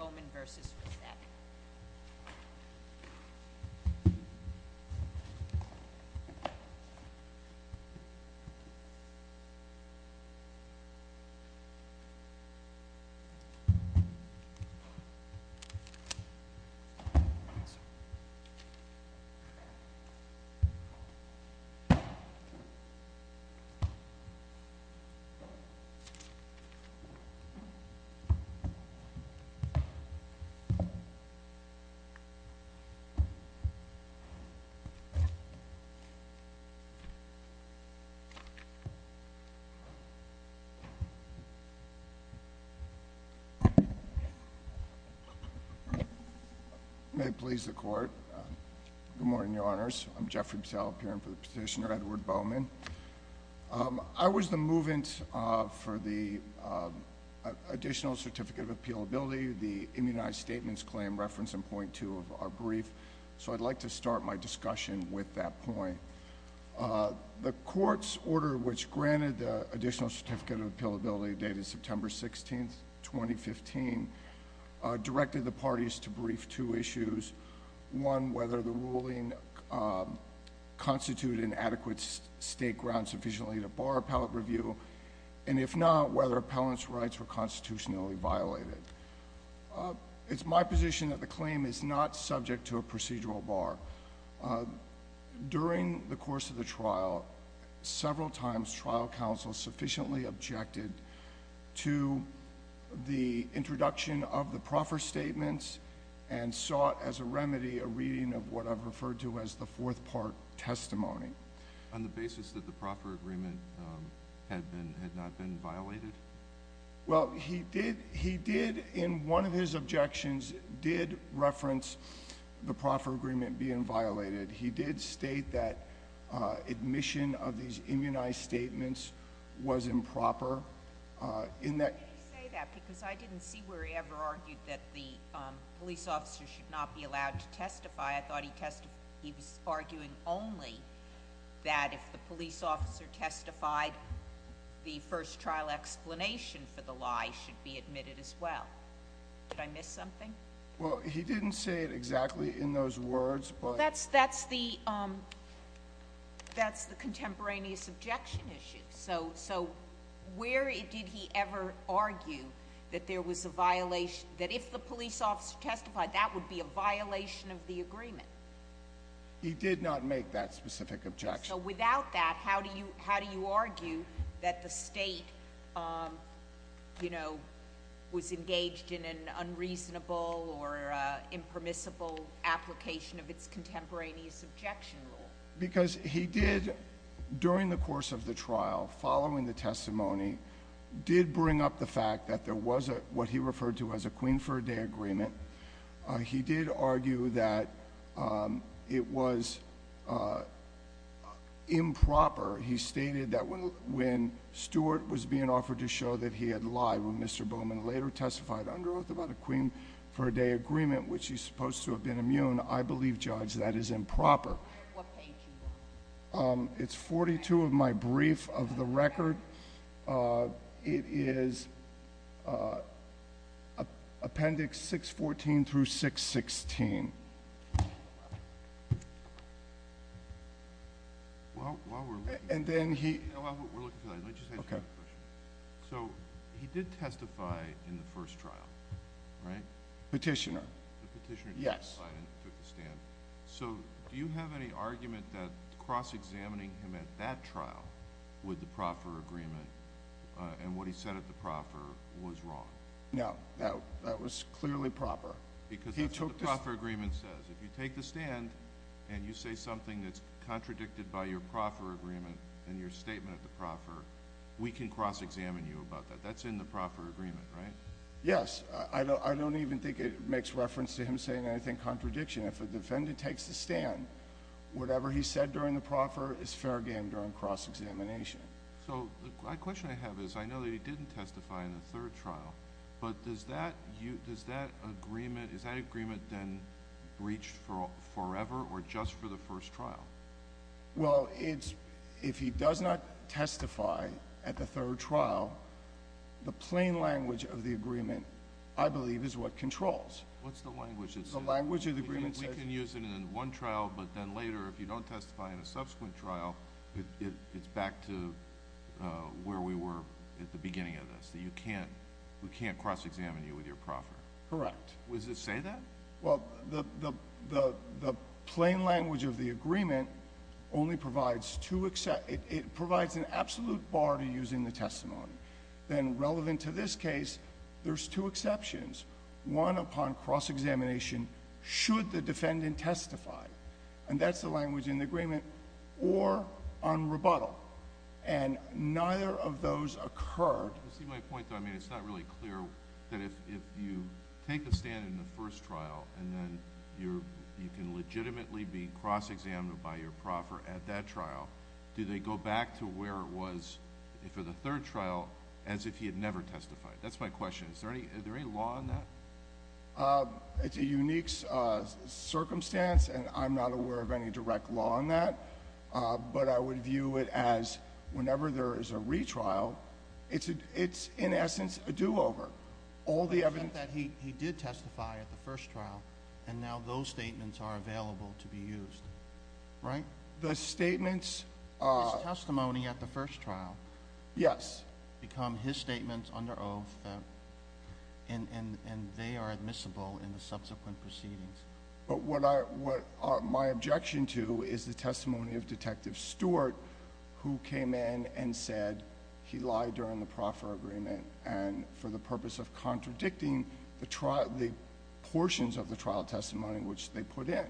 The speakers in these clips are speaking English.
Oman v. Racette Oman may it please the court. Good morning, your honors. I'm Jeffrey Pesallo, appearing for the petitioner Edward Bowman. I was the move-in for the additional certificate of appealability, the immunized statements claim referenced in point two of our brief, so I'd like to start my discussion with that point. The court's order which granted the additional certificate of appealability dated September 16, 2015, directed the parties to brief two issues. One, whether the ruling constituted an adequate state ground sufficiently to bar appellate review, and if not, whether appellant's rights were constitutionally violated. It's my position that the claim is not subject to a procedural bar. During the course of the trial, several times trial counsel sufficiently objected to the introduction of the proffer statements and sought as a remedy a reading of what I've referred to as the fourth part of the testimony. On the basis that the proffer agreement had not been violated? Well, he did, in one of his objections, did reference the proffer agreement being violated. He did state that admission of these immunized statements was improper. Can you say that because I didn't see where he ever argued that the police officer should not be allowed to testify. I thought he was arguing only that if the police officer testified, the first trial explanation for the lie should be admitted as well. Did I miss something? Well, he didn't say it exactly in those words. Well, that's the contemporaneous objection issue. So where did he ever argue that there was a violation, that if the police officer testified, that would be a violation of the agreement? He did not make that specific objection. So without that, how do you argue that the state, you know, was engaged in an unreasonable or impermissible application of its contemporaneous objection rule? Because he did, during the course of the trial, following the testimony, did bring up the fact that there was what he referred to as a queen for a day agreement. He did argue that it was improper. He stated that when Stewart was being offered to show that he had lied, when Mr. Bowman later testified under oath about a queen for a day agreement, which he's supposed to have been immune, I believe, Judge, that it is improper. It's 42 of my brief of the record. It is Appendix 614 through 616. And then he... So he did testify in the first trial, right? Petitioner. Petitioner did testify and took the stand. So do you have any argument that cross-examining him at that trial with the proffer agreement and what he said at the proffer was wrong? No. That was clearly proper. Because that's what the proffer agreement says. If you take the stand and you say something that's contradicted by your proffer agreement and your statement at the proffer, we can cross-examine you about that. That's in the proffer agreement, right? Yes. I don't even think it makes reference to him saying anything contradiction. If a defendant takes the stand, whatever he said during the proffer is fair game during cross-examination. So the question I have is, I know that he didn't testify in the third trial, but does that agreement then reach forever or just for the first trial? Well, if he does not testify at the third trial, the plain language of the agreement, I believe, is what controls. What's the language of the agreement? We can use it in one trial, but then later, if you don't testify in a subsequent trial, it's back to where we were at the beginning of this. That you can't, we can't cross-examine you with your proffer. Correct. Does it say that? Well, the plain language of the agreement only provides two, it provides an absolute bar to use in the one upon cross-examination should the defendant testify. And that's the language in the agreement or on rebuttal. And neither of those occurred. You see my point though, I mean, it's not really clear that if you take the stand in the first trial and then you can legitimately be cross-examined by your proffer at that trial, do they go back to where it was for the third trial as if he had never testified? That's my question. Is there any law on that? It's a unique circumstance, and I'm not aware of any direct law on that. But I would view it as whenever there is a retrial, it's in essence a do-over. All the evidence... The fact that he did testify at the first trial, and now those statements are available to be used, right? The statements... His testimony at the first trial... It's under oath, and they are admissible in the subsequent proceedings. But what I, what my objection to is the testimony of Detective Stewart, who came in and said he lied during the proffer agreement and for the purpose of contradicting the trial, the portions of the trial testimony which they put in.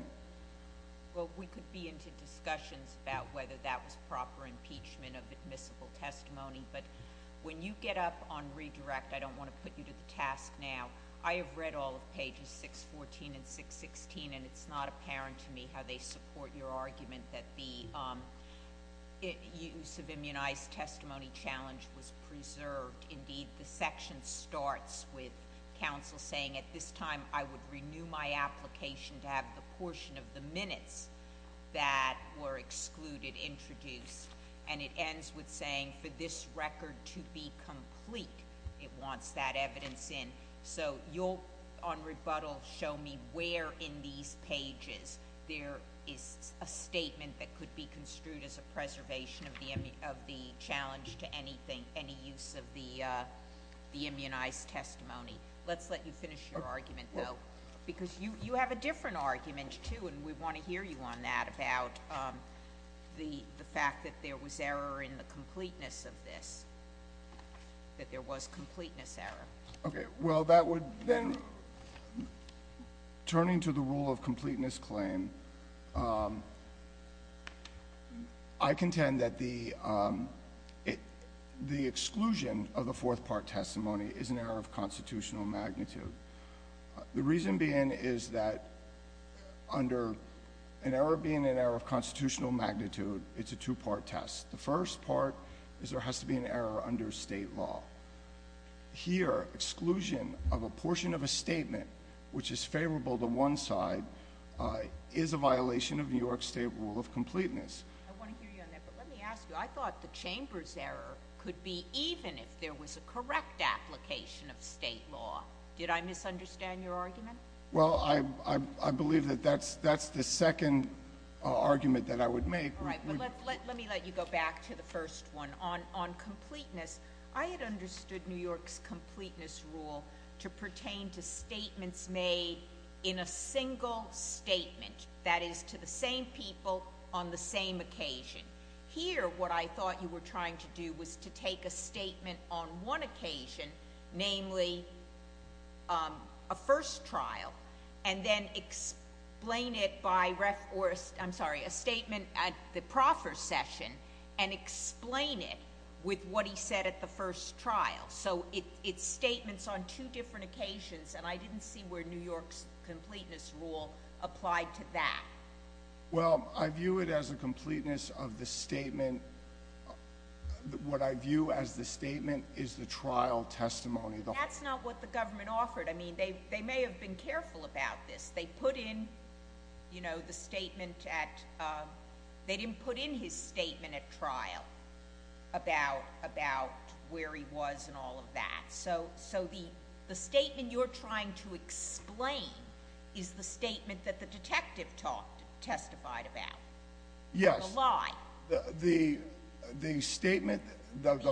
Well, we could be into discussions about whether that was proper impeachment of admissible testimony, but when you get up on redirect, I don't want to put you to the task now. I have read all of pages 614 and 616, and it's not apparent to me how they support your argument that the use of immunized testimony challenge was preserved. Indeed, the section starts with counsel saying, at this time, I would renew my application to have the portion of the and it ends with saying, for this record to be complete, it wants that evidence in. So you'll, on rebuttal, show me where in these pages there is a statement that could be construed as a preservation of the challenge to anything, any use of the immunized testimony. Let's let you finish your argument, though, because you have a different argument, too, and we want to hear you on that about the fact that there was error in the completeness of this, that there was completeness error. Okay, well, that would then, turning to the rule of completeness claim, I contend that the exclusion of the fourth part testimony is an error of constitutional magnitude. It's a two-part test. The first part is there has to be an error under state law. Here, exclusion of a portion of a statement which is favorable to one side is a violation of New York state rule of completeness. I want to hear you on that, but let me ask you, I thought the chamber's error could be even if there was a correct application of state law. Did I misunderstand your argument? Well, I believe that that's the second argument that I would make. All right, but let me let you go back to the first one. On completeness, I had understood New York's completeness rule to pertain to statements made in a single statement, that is, to the same people on the same occasion. Here, what I thought you were trying to do was to take a statement on one occasion, namely a first trial, and then explain it by, I'm sorry, a statement at the proffer session, and explain it with what he said at the first trial. So it's statements on two different occasions, and I didn't see where New York's completeness rule applied to that. Well, I view it as a completeness of the statement. What I view as the statement is the trial testimony. That's not what the government offered. I mean, they may have been careful about this. They didn't put in his statement at trial about where he was and all of that. So the statement you're trying to explain is the statement that the detective testified about? Yes. The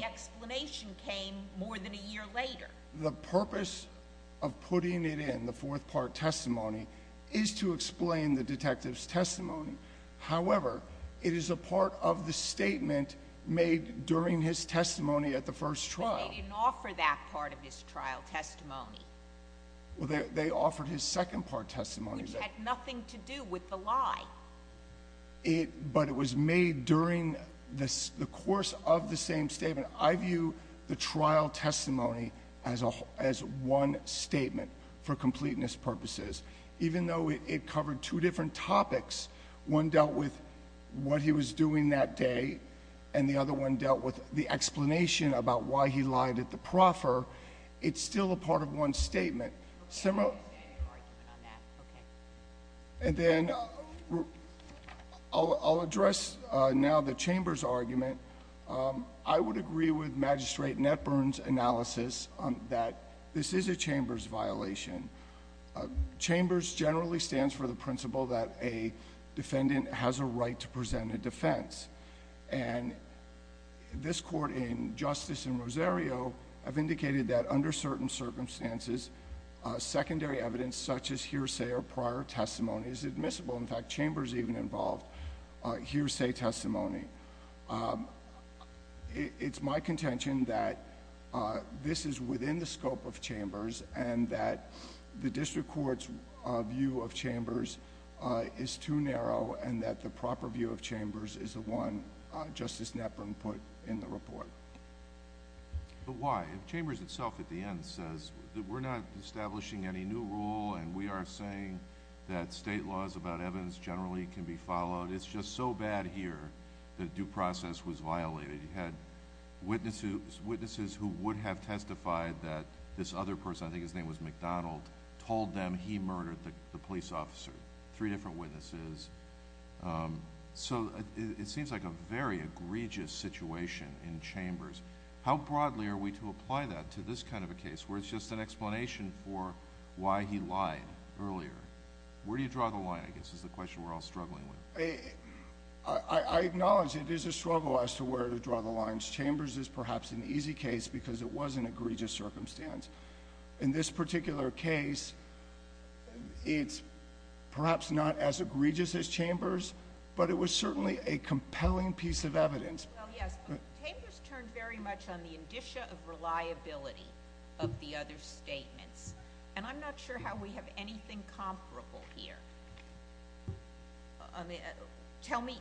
explanation came more than a year later. The purpose of putting it in, the fourth part testimony, is to explain the detective's testimony. However, it is a part of the statement made during his testimony at the first trial. They didn't offer that part of his trial testimony. Well, they offered his second part testimony. Which had nothing to do with the lie. But it was made during the course of the same statement. I view the trial testimony as one statement for completeness purposes. Even though it covered two different topics, one dealt with what he was doing that day, and the other one dealt with the explanation about why he lied at the proffer, it's still a part of one statement. And then I'll address now the Chamber's argument. I would agree with Magistrate Netburn's analysis that this is a Chamber's violation. Chambers generally stands for the principle that a defendant has a right to present a defense. And this Court in Justice and Rosario have indicated that under certain circumstances, secondary evidence such as hearsay or prior testimony is admissible. In fact, Chambers even involved hearsay testimony. It's my contention that this is within the scope of Chambers and that the District Court's view of Chambers is too narrow and that the proper view of Chambers is the one Justice Netburn put in the report. But why? Chambers itself at the end says that we're not establishing any new rule and we are saying that state laws about evidence generally can be followed. It's just so bad here that due process was violated. You had witnesses who would have testified that this other person, I think his name was McDonald, told them he murdered the police officer. Three different witnesses. So it seems like a very egregious situation in Chambers. How broadly are we to apply that to this kind of a case where it's just an explanation for why he lied earlier? Where do you draw the line, I guess, is the question we're all struggling with. I acknowledge it is a struggle as to where to draw the lines. Chambers is perhaps an easy case because it was an egregious circumstance. In this particular case, it's perhaps not as egregious as Chambers, but it was certainly a compelling piece of evidence. Chambers turned very much on the indicia of reliability of the other statements and I'm not sure how we have anything comparable here. Tell me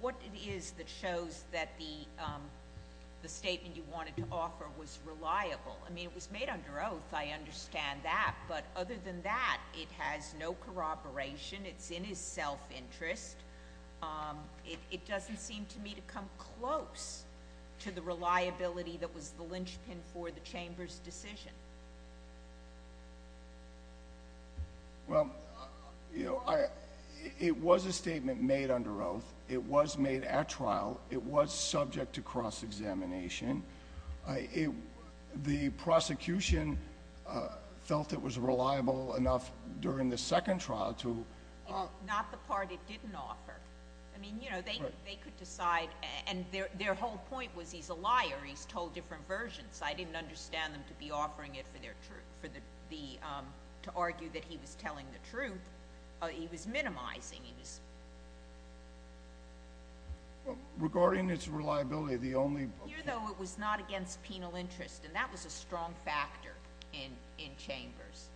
what it is that shows that the statement you wanted to offer was reliable. I mean, it was made under oath, I understand that, but other than that, it has no corroboration. It's in his self-interest. It doesn't seem to me to come close to the reliability that was the linchpin for the trial. It was subject to cross-examination. The prosecution felt it was reliable enough during the second trial to... It's not the part it didn't offer. I mean, you know, they could decide, and their whole point was he's a liar, he's told different versions. I didn't understand them to be offering it for their truth, to argue that he was telling the truth. He was minimizing. Regarding its reliability, the only... Here, though, it was not against penal interest, and that was a strong factor in Chambers.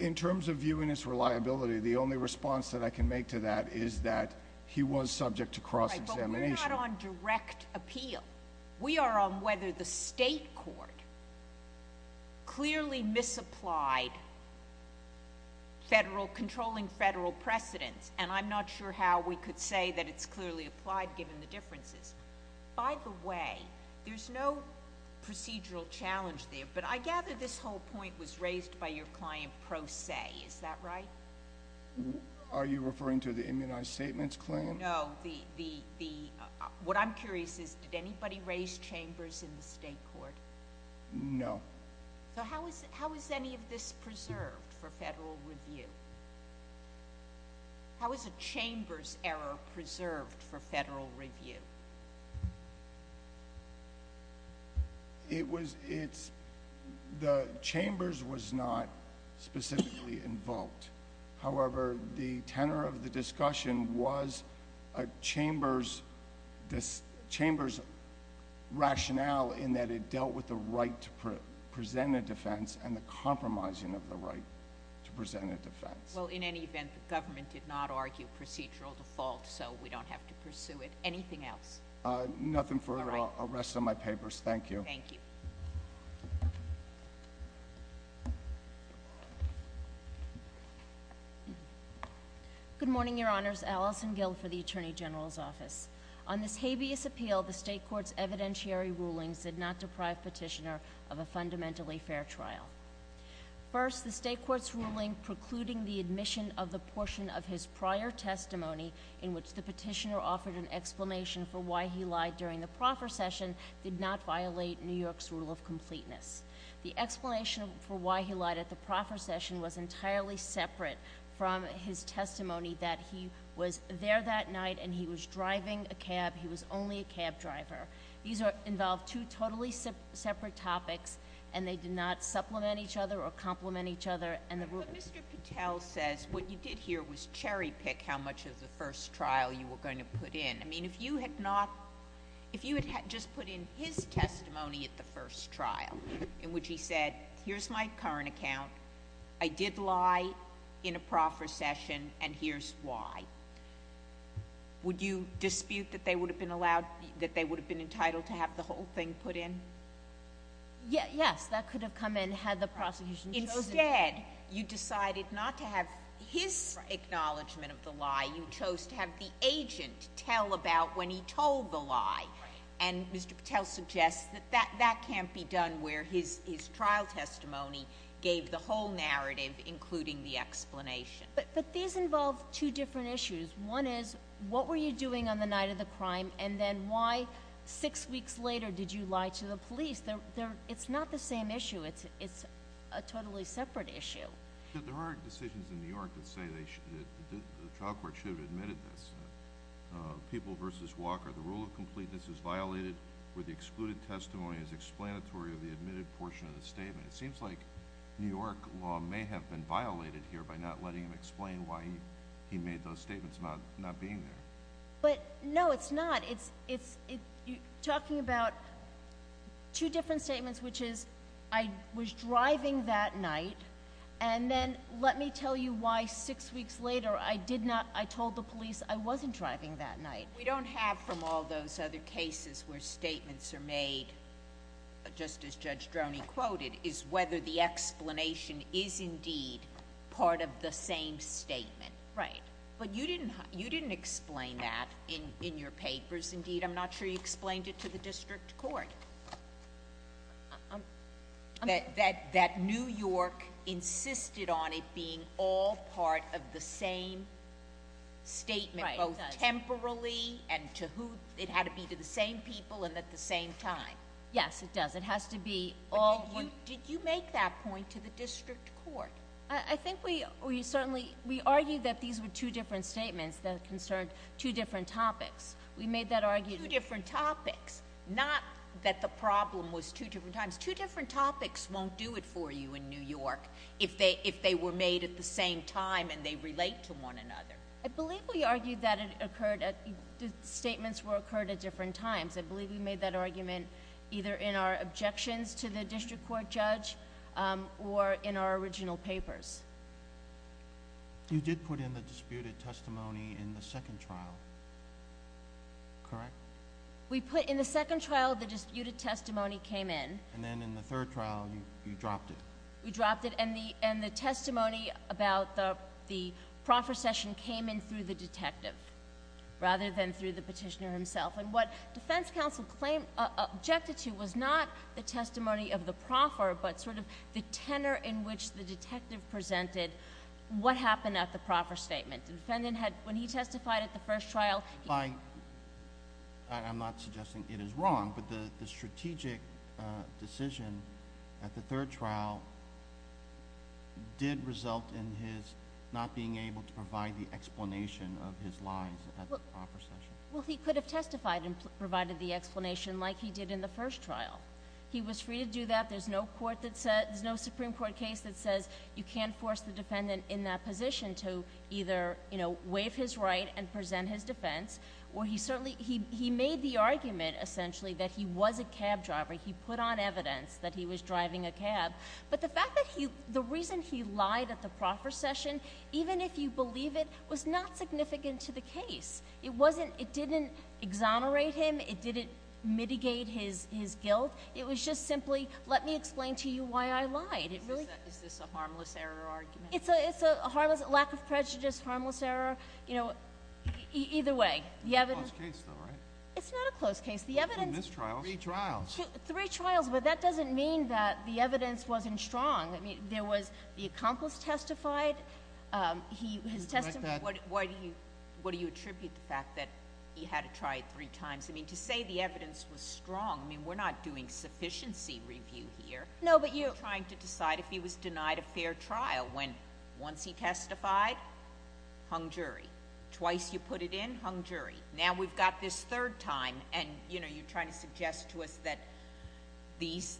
In terms of viewing its reliability, the only response that I can make to that is that he was subject to cross-examination. We're not on direct appeal. We are on whether the state court clearly misapplied controlling federal precedents, and I'm not sure how we could say that it's clearly applied, given the differences. By the way, there's no procedural challenge there, but I gather this whole point was raised by your client pro se. Is that right? Are you referring to the immunized statements claim? No. What I'm curious is, did anybody raise Chambers in the state court? No. How is any of this preserved for federal review? How is a Chambers error preserved for federal review? It was... The Chambers was not specifically involved. However, the tenor of the discussion was a Chambers rationale in that it dealt with the right to present a defense and the compromising of the right to present a defense. Well, in any event, the government did not argue procedural default, so we don't have to pursue it. Anything else? Nothing further. I'll rest on my papers. Thank you. Good morning, Your Honors. Allison Gill for the Attorney General's Office. On this habeas appeal, the state court's evidentiary rulings did not deprive Petitioner of a fundamentally fair trial. First, the state court's ruling precluding the admission of the portion of his prior testimony in which the petitioner offered an explanation for why he lied during the proffer session did not violate New York's rule of completeness. The explanation for why he lied at the proffer session was entirely separate from his testimony that he was there that night and he was driving a cab. He was only a cab driver. These involve two totally separate topics, and they did not supplement each other or complement each other. But Mr. Patel says what you did here was cherry pick how much of the first trial you were going to put in. I mean, if you had not, if you had just put in his testimony at the first trial, in which he said, here's my current account, I did lie in a proffer session, and here's why, would you dispute that they would have been allowed, that they would have been entitled to have the whole thing put in? Yes, that could have come in had the prosecution chosen. Instead, you decided not to have his acknowledgement of the lie. You chose to have the agent tell about when he told the lie. And Mr. Patel suggests that that can't be done where his trial testimony gave the whole narrative, including the explanation. But these involve two different issues. One is, what were you doing on the night of the crime, and then why six weeks later did you lie to the police? It's not the same issue. It's a totally separate issue. But there are decisions in New York that say the trial court should have admitted this. People v. Walker, the rule of completeness is violated where the excluded testimony is explanatory of the admitted portion of the statement. It seems like New York law may have been violated here by not letting him explain why he made those statements about not being there. But no, it's not. You're talking about two different statements, which is, I was driving that night, and then let me tell you why six weeks later I told the police I wasn't driving that night. What we don't have from all those other cases where statements are made, just as Judge Droney quoted, is whether the explanation is indeed part of the same statement. But you didn't explain that in your papers, indeed. I'm not sure you explained it to the district court, that New York insisted on it being all part of the same statement, both temporally and to who—it had to be to the same people and at the same time. Yes, it does. It has to be all— But did you make that point to the district court? I think we certainly—we argued that these were two different statements that concerned two different topics. We made that argument— Two different topics, not that the problem was two different times. Two different topics won't do it for you in New York if they were made at the same time and they relate to one another. I believe we argued that it occurred—statements were occurred at different times. I believe we made that argument either in our objections to the district court judge or in our original papers. You did put in the disputed testimony in the second trial, correct? We put—in the second trial, the disputed testimony came in. And then in the third trial, you dropped it. We dropped it, and the testimony about the prophecy came in through the detective rather than through the petitioner himself. And what but sort of the tenor in which the detective presented what happened at the proffer statement. The defendant had—when he testified at the first trial— I'm not suggesting it is wrong, but the strategic decision at the third trial did result in his not being able to provide the explanation of his lies at the proffer session. Well, he could have testified and provided the court that said—there's no Supreme Court case that says you can't force the defendant in that position to either, you know, waive his right and present his defense. He made the argument essentially that he was a cab driver. He put on evidence that he was driving a cab. But the fact that he—the reason he lied at the proffer session, even if you believe it, was not significant to the case. It didn't exonerate him. It didn't mitigate his guilt. It was just simply, let me explain to you why I lied. Is this a harmless error argument? It's a harmless—lack of prejudice, harmless error, you know, either way. It's a close case, though, right? It's not a close case. The evidence— In this trial, three trials. Three trials, but that doesn't mean that the evidence wasn't strong. I mean, there was—the accomplice testified. His testimony— Why do you—what do you attribute the fact that he had to try it three times? I mean, to say the evidence was strong, I mean, we're not doing sufficiency review here. No, but you— We're trying to decide if he was denied a fair trial when, once he testified, hung jury. Twice you put it in, hung jury. Now we've got this third time, and, you know, you're trying to suggest to us that these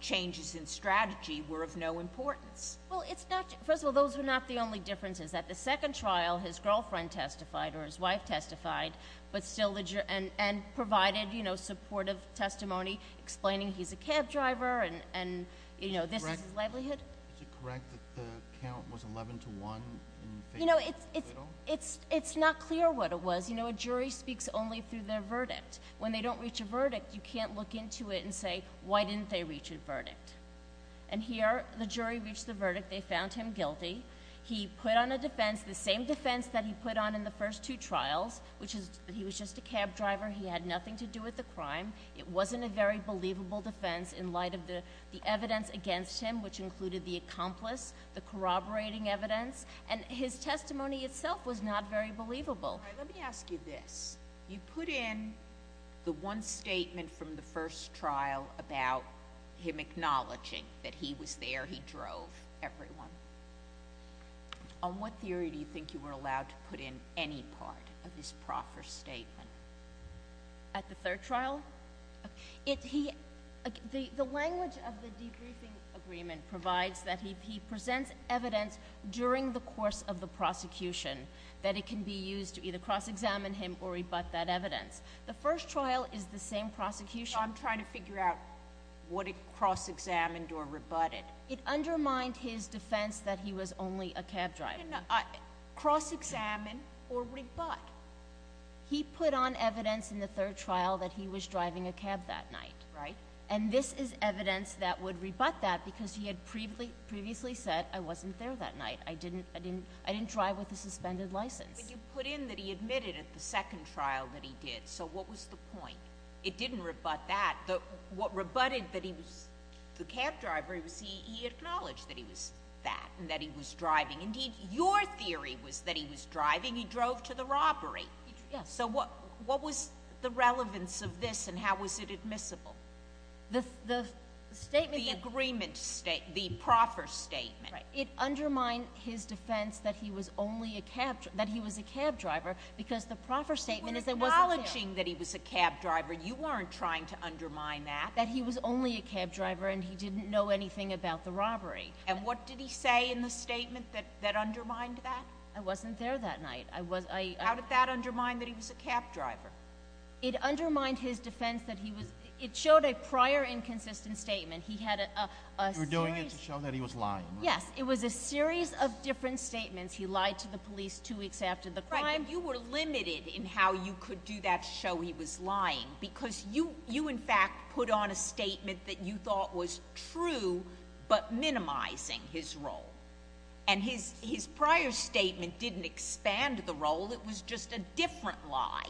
changes in strategy were of no importance. Well, it's not—first of all, those were not the only differences. At the second trial, his girlfriend testified, or his wife testified, but still the—and provided, you know, supportive testimony, explaining he's a cab driver and, you know, this is his livelihood. Is it correct that the count was 11 to 1? You know, it's not clear what it was. You know, a jury speaks only through their verdict. When they don't reach a verdict, you can't look into it and say, why didn't they reach a verdict? And here, the jury reached the verdict. They found him guilty. He put on a defense, the same defense that he put on in the first two trials, which is that he was just a cab driver. He had nothing to do with the crime. It wasn't a very believable defense in light of the evidence against him, which included the accomplice, the corroborating evidence. And his testimony itself was not very believable. Let me ask you this. You put in the one statement from the first trial about him acknowledging that he was there, he drove everyone. On what theory do you think you were allowed to put in any part of his proffer statement? At the third trial? The language of the debriefing agreement provides that he presents evidence during the course of the prosecution that it can be used to either cross-examine him or rebut that evidence. The first trial is the same prosecution— I'm trying to figure out what it cross-examined or rebutted. It undermined his defense that he was only a cab driver. Cross-examine or rebut? He put on evidence in the third trial that he was driving a cab that night. Right. And this is evidence that would rebut that because he had previously said, I wasn't there that night. I didn't drive with a suspended license. But you put in that he admitted at the second trial that he did. So what was the point? It didn't rebut that. What rebutted that he was the cab driver was he acknowledged that he was that and that he was driving. Indeed, your theory was that he was driving. He drove to the robbery. Yes. So what was the relevance of this and how was it admissible? The statement— The agreement statement, the proffer statement. It undermined his defense that he was only a cab—that he was a cab driver because the proffer statement— Acknowledging that he was a cab driver, you weren't trying to undermine that. That he was only a cab driver and he didn't know anything about the robbery. And what did he say in the statement that undermined that? I wasn't there that night. I was— How did that undermine that he was a cab driver? It undermined his defense that he was—it showed a prior inconsistent statement. He had a series— You were doing it to show that he was lying. Yes. It was a series of different statements. He lied to the police two weeks after the crime. You were limited in how you could do that to show he was lying because you, in fact, put on a statement that you thought was true but minimizing his role. And his prior statement didn't expand the role. It was just a different lie.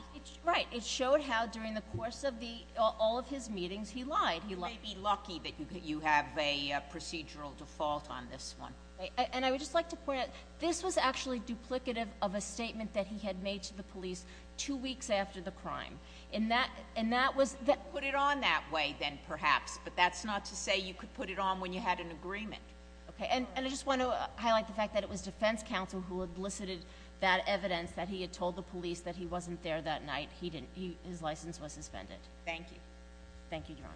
Right. It showed how during the course of the—all of his meetings, he lied. You may be lucky that you have a procedural default on this one. And I would just like to point out, this was actually duplicative of a statement that he had made to the police two weeks after the crime. And that was— Put it on that way, then, perhaps. But that's not to say you could put it on when you had an agreement. Okay. And I just want to highlight the fact that it was defense counsel who elicited that evidence that he had told the police that he wasn't there that night. Thank you. Thank you, Your Honor.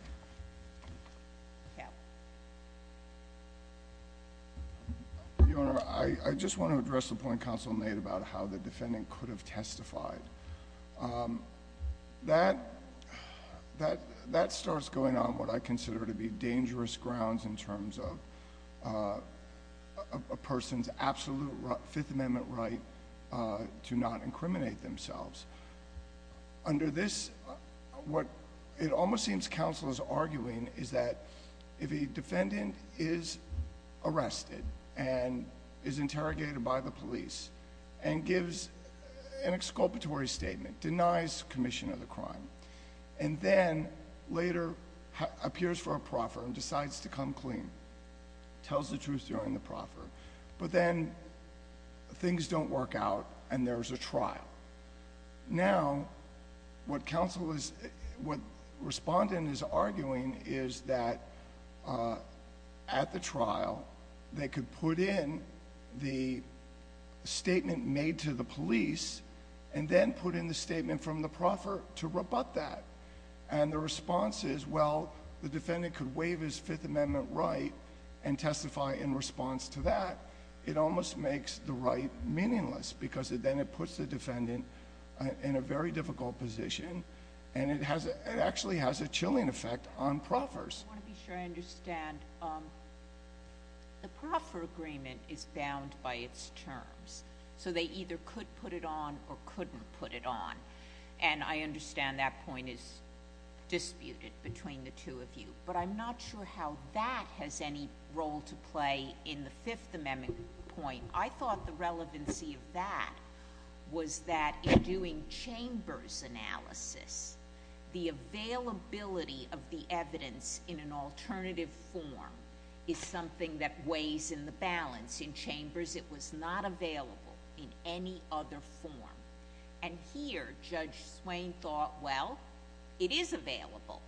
Your Honor, I just want to address the point counsel made about how the defendant could have testified. That starts going on what I consider to be dangerous grounds in terms of a person's absolute Fifth Amendment right to not incriminate themselves. Under this, what it almost seems counsel is arguing is that if a defendant is arrested, and is interrogated by the police, and gives an exculpatory statement, denies commission of the crime, and then later appears for a proffer and decides to come clean, tells the truth during the proffer, but then things don't work out and there's a trial. Now, what counsel is—what at the trial, they could put in the statement made to the police and then put in the statement from the proffer to rebut that. And the response is, well, the defendant could waive his Fifth Amendment right and testify in response to that. It almost makes the right meaningless because then it puts the defendant in a very difficult position and it actually has a chilling effect on proffers. I want to be sure I understand. The proffer agreement is bound by its terms, so they either could put it on or couldn't put it on. And I understand that point is disputed between the two of you, but I'm not sure how that has any role to play in the Fifth Amendment point. I thought the relevancy of that was that in doing chambers analysis, the availability of the evidence in an alternative form is something that weighs in the balance. In chambers, it was not available in any other form. And here, Judge Swain thought, well, it is available.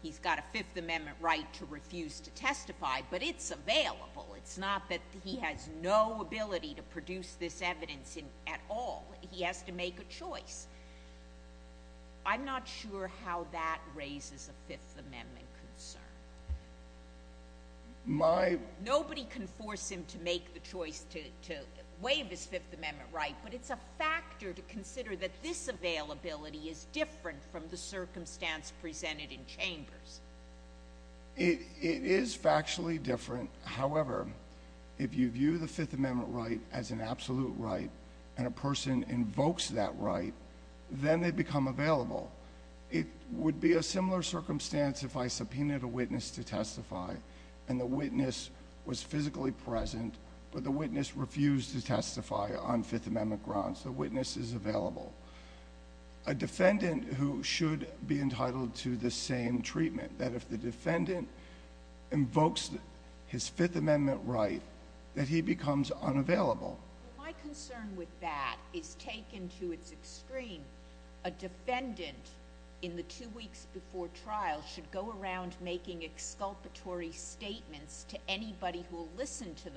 He's got a Fifth Amendment right to refuse to testify, but it's available. It's not that he has no ability to produce this evidence at all. He has to make a choice. I'm not sure how that raises a Fifth Amendment concern. Nobody can force him to make the choice to waive his Fifth Amendment right, but it's a factor to consider that this availability is different from the circumstance presented in chambers. It is factually different. However, if you view the Fifth Amendment right as an unavailable right, then they become available. It would be a similar circumstance if I subpoenaed a witness to testify and the witness was physically present, but the witness refused to testify on Fifth Amendment grounds. The witness is available. A defendant who should be entitled to the same treatment, that if the defendant invokes his Fifth Amendment right, that he becomes unavailable. My concern with that is taken to its extreme. A defendant in the two weeks before trial should go around making exculpatory statements to anybody who will listen to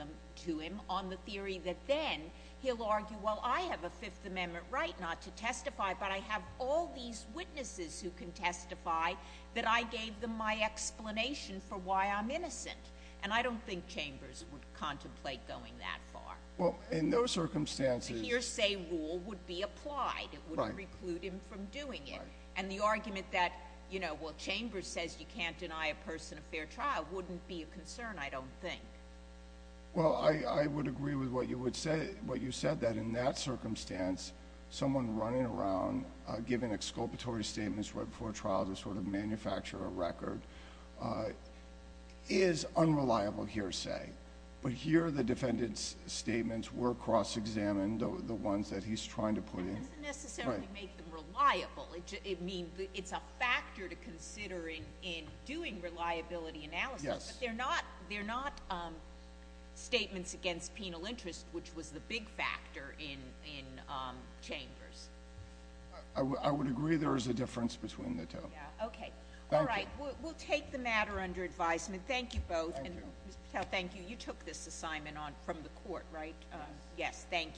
him on the theory that then he'll argue, well, I have a Fifth Amendment right not to testify, but I have all these witnesses who can testify that I gave them my explanation for why I'm innocent, and I don't think chambers would contemplate going that far. Well, in those circumstances... The hearsay rule would be applied. It wouldn't reclude him from doing it, and the argument that, you know, well, chambers says you can't deny a person a fair trial wouldn't be a concern, I don't think. Well, I would agree with what you said, that in that circumstance, someone running around giving exculpatory statements right before trial to sort of manufacture a record is unreliable hearsay, but here the defendant's statements were cross-examined, the ones that he's trying to put in. It doesn't necessarily make them reliable. It means it's a factor to consider in doing reliability analysis, but they're not statements against penal interest, which was the big factor in chambers. I would agree there is a difference between the two. Okay. All right. We'll take the matter under advisement. Thank you both. Thank you. You took this assignment on from the court, right? Yes. Thank you.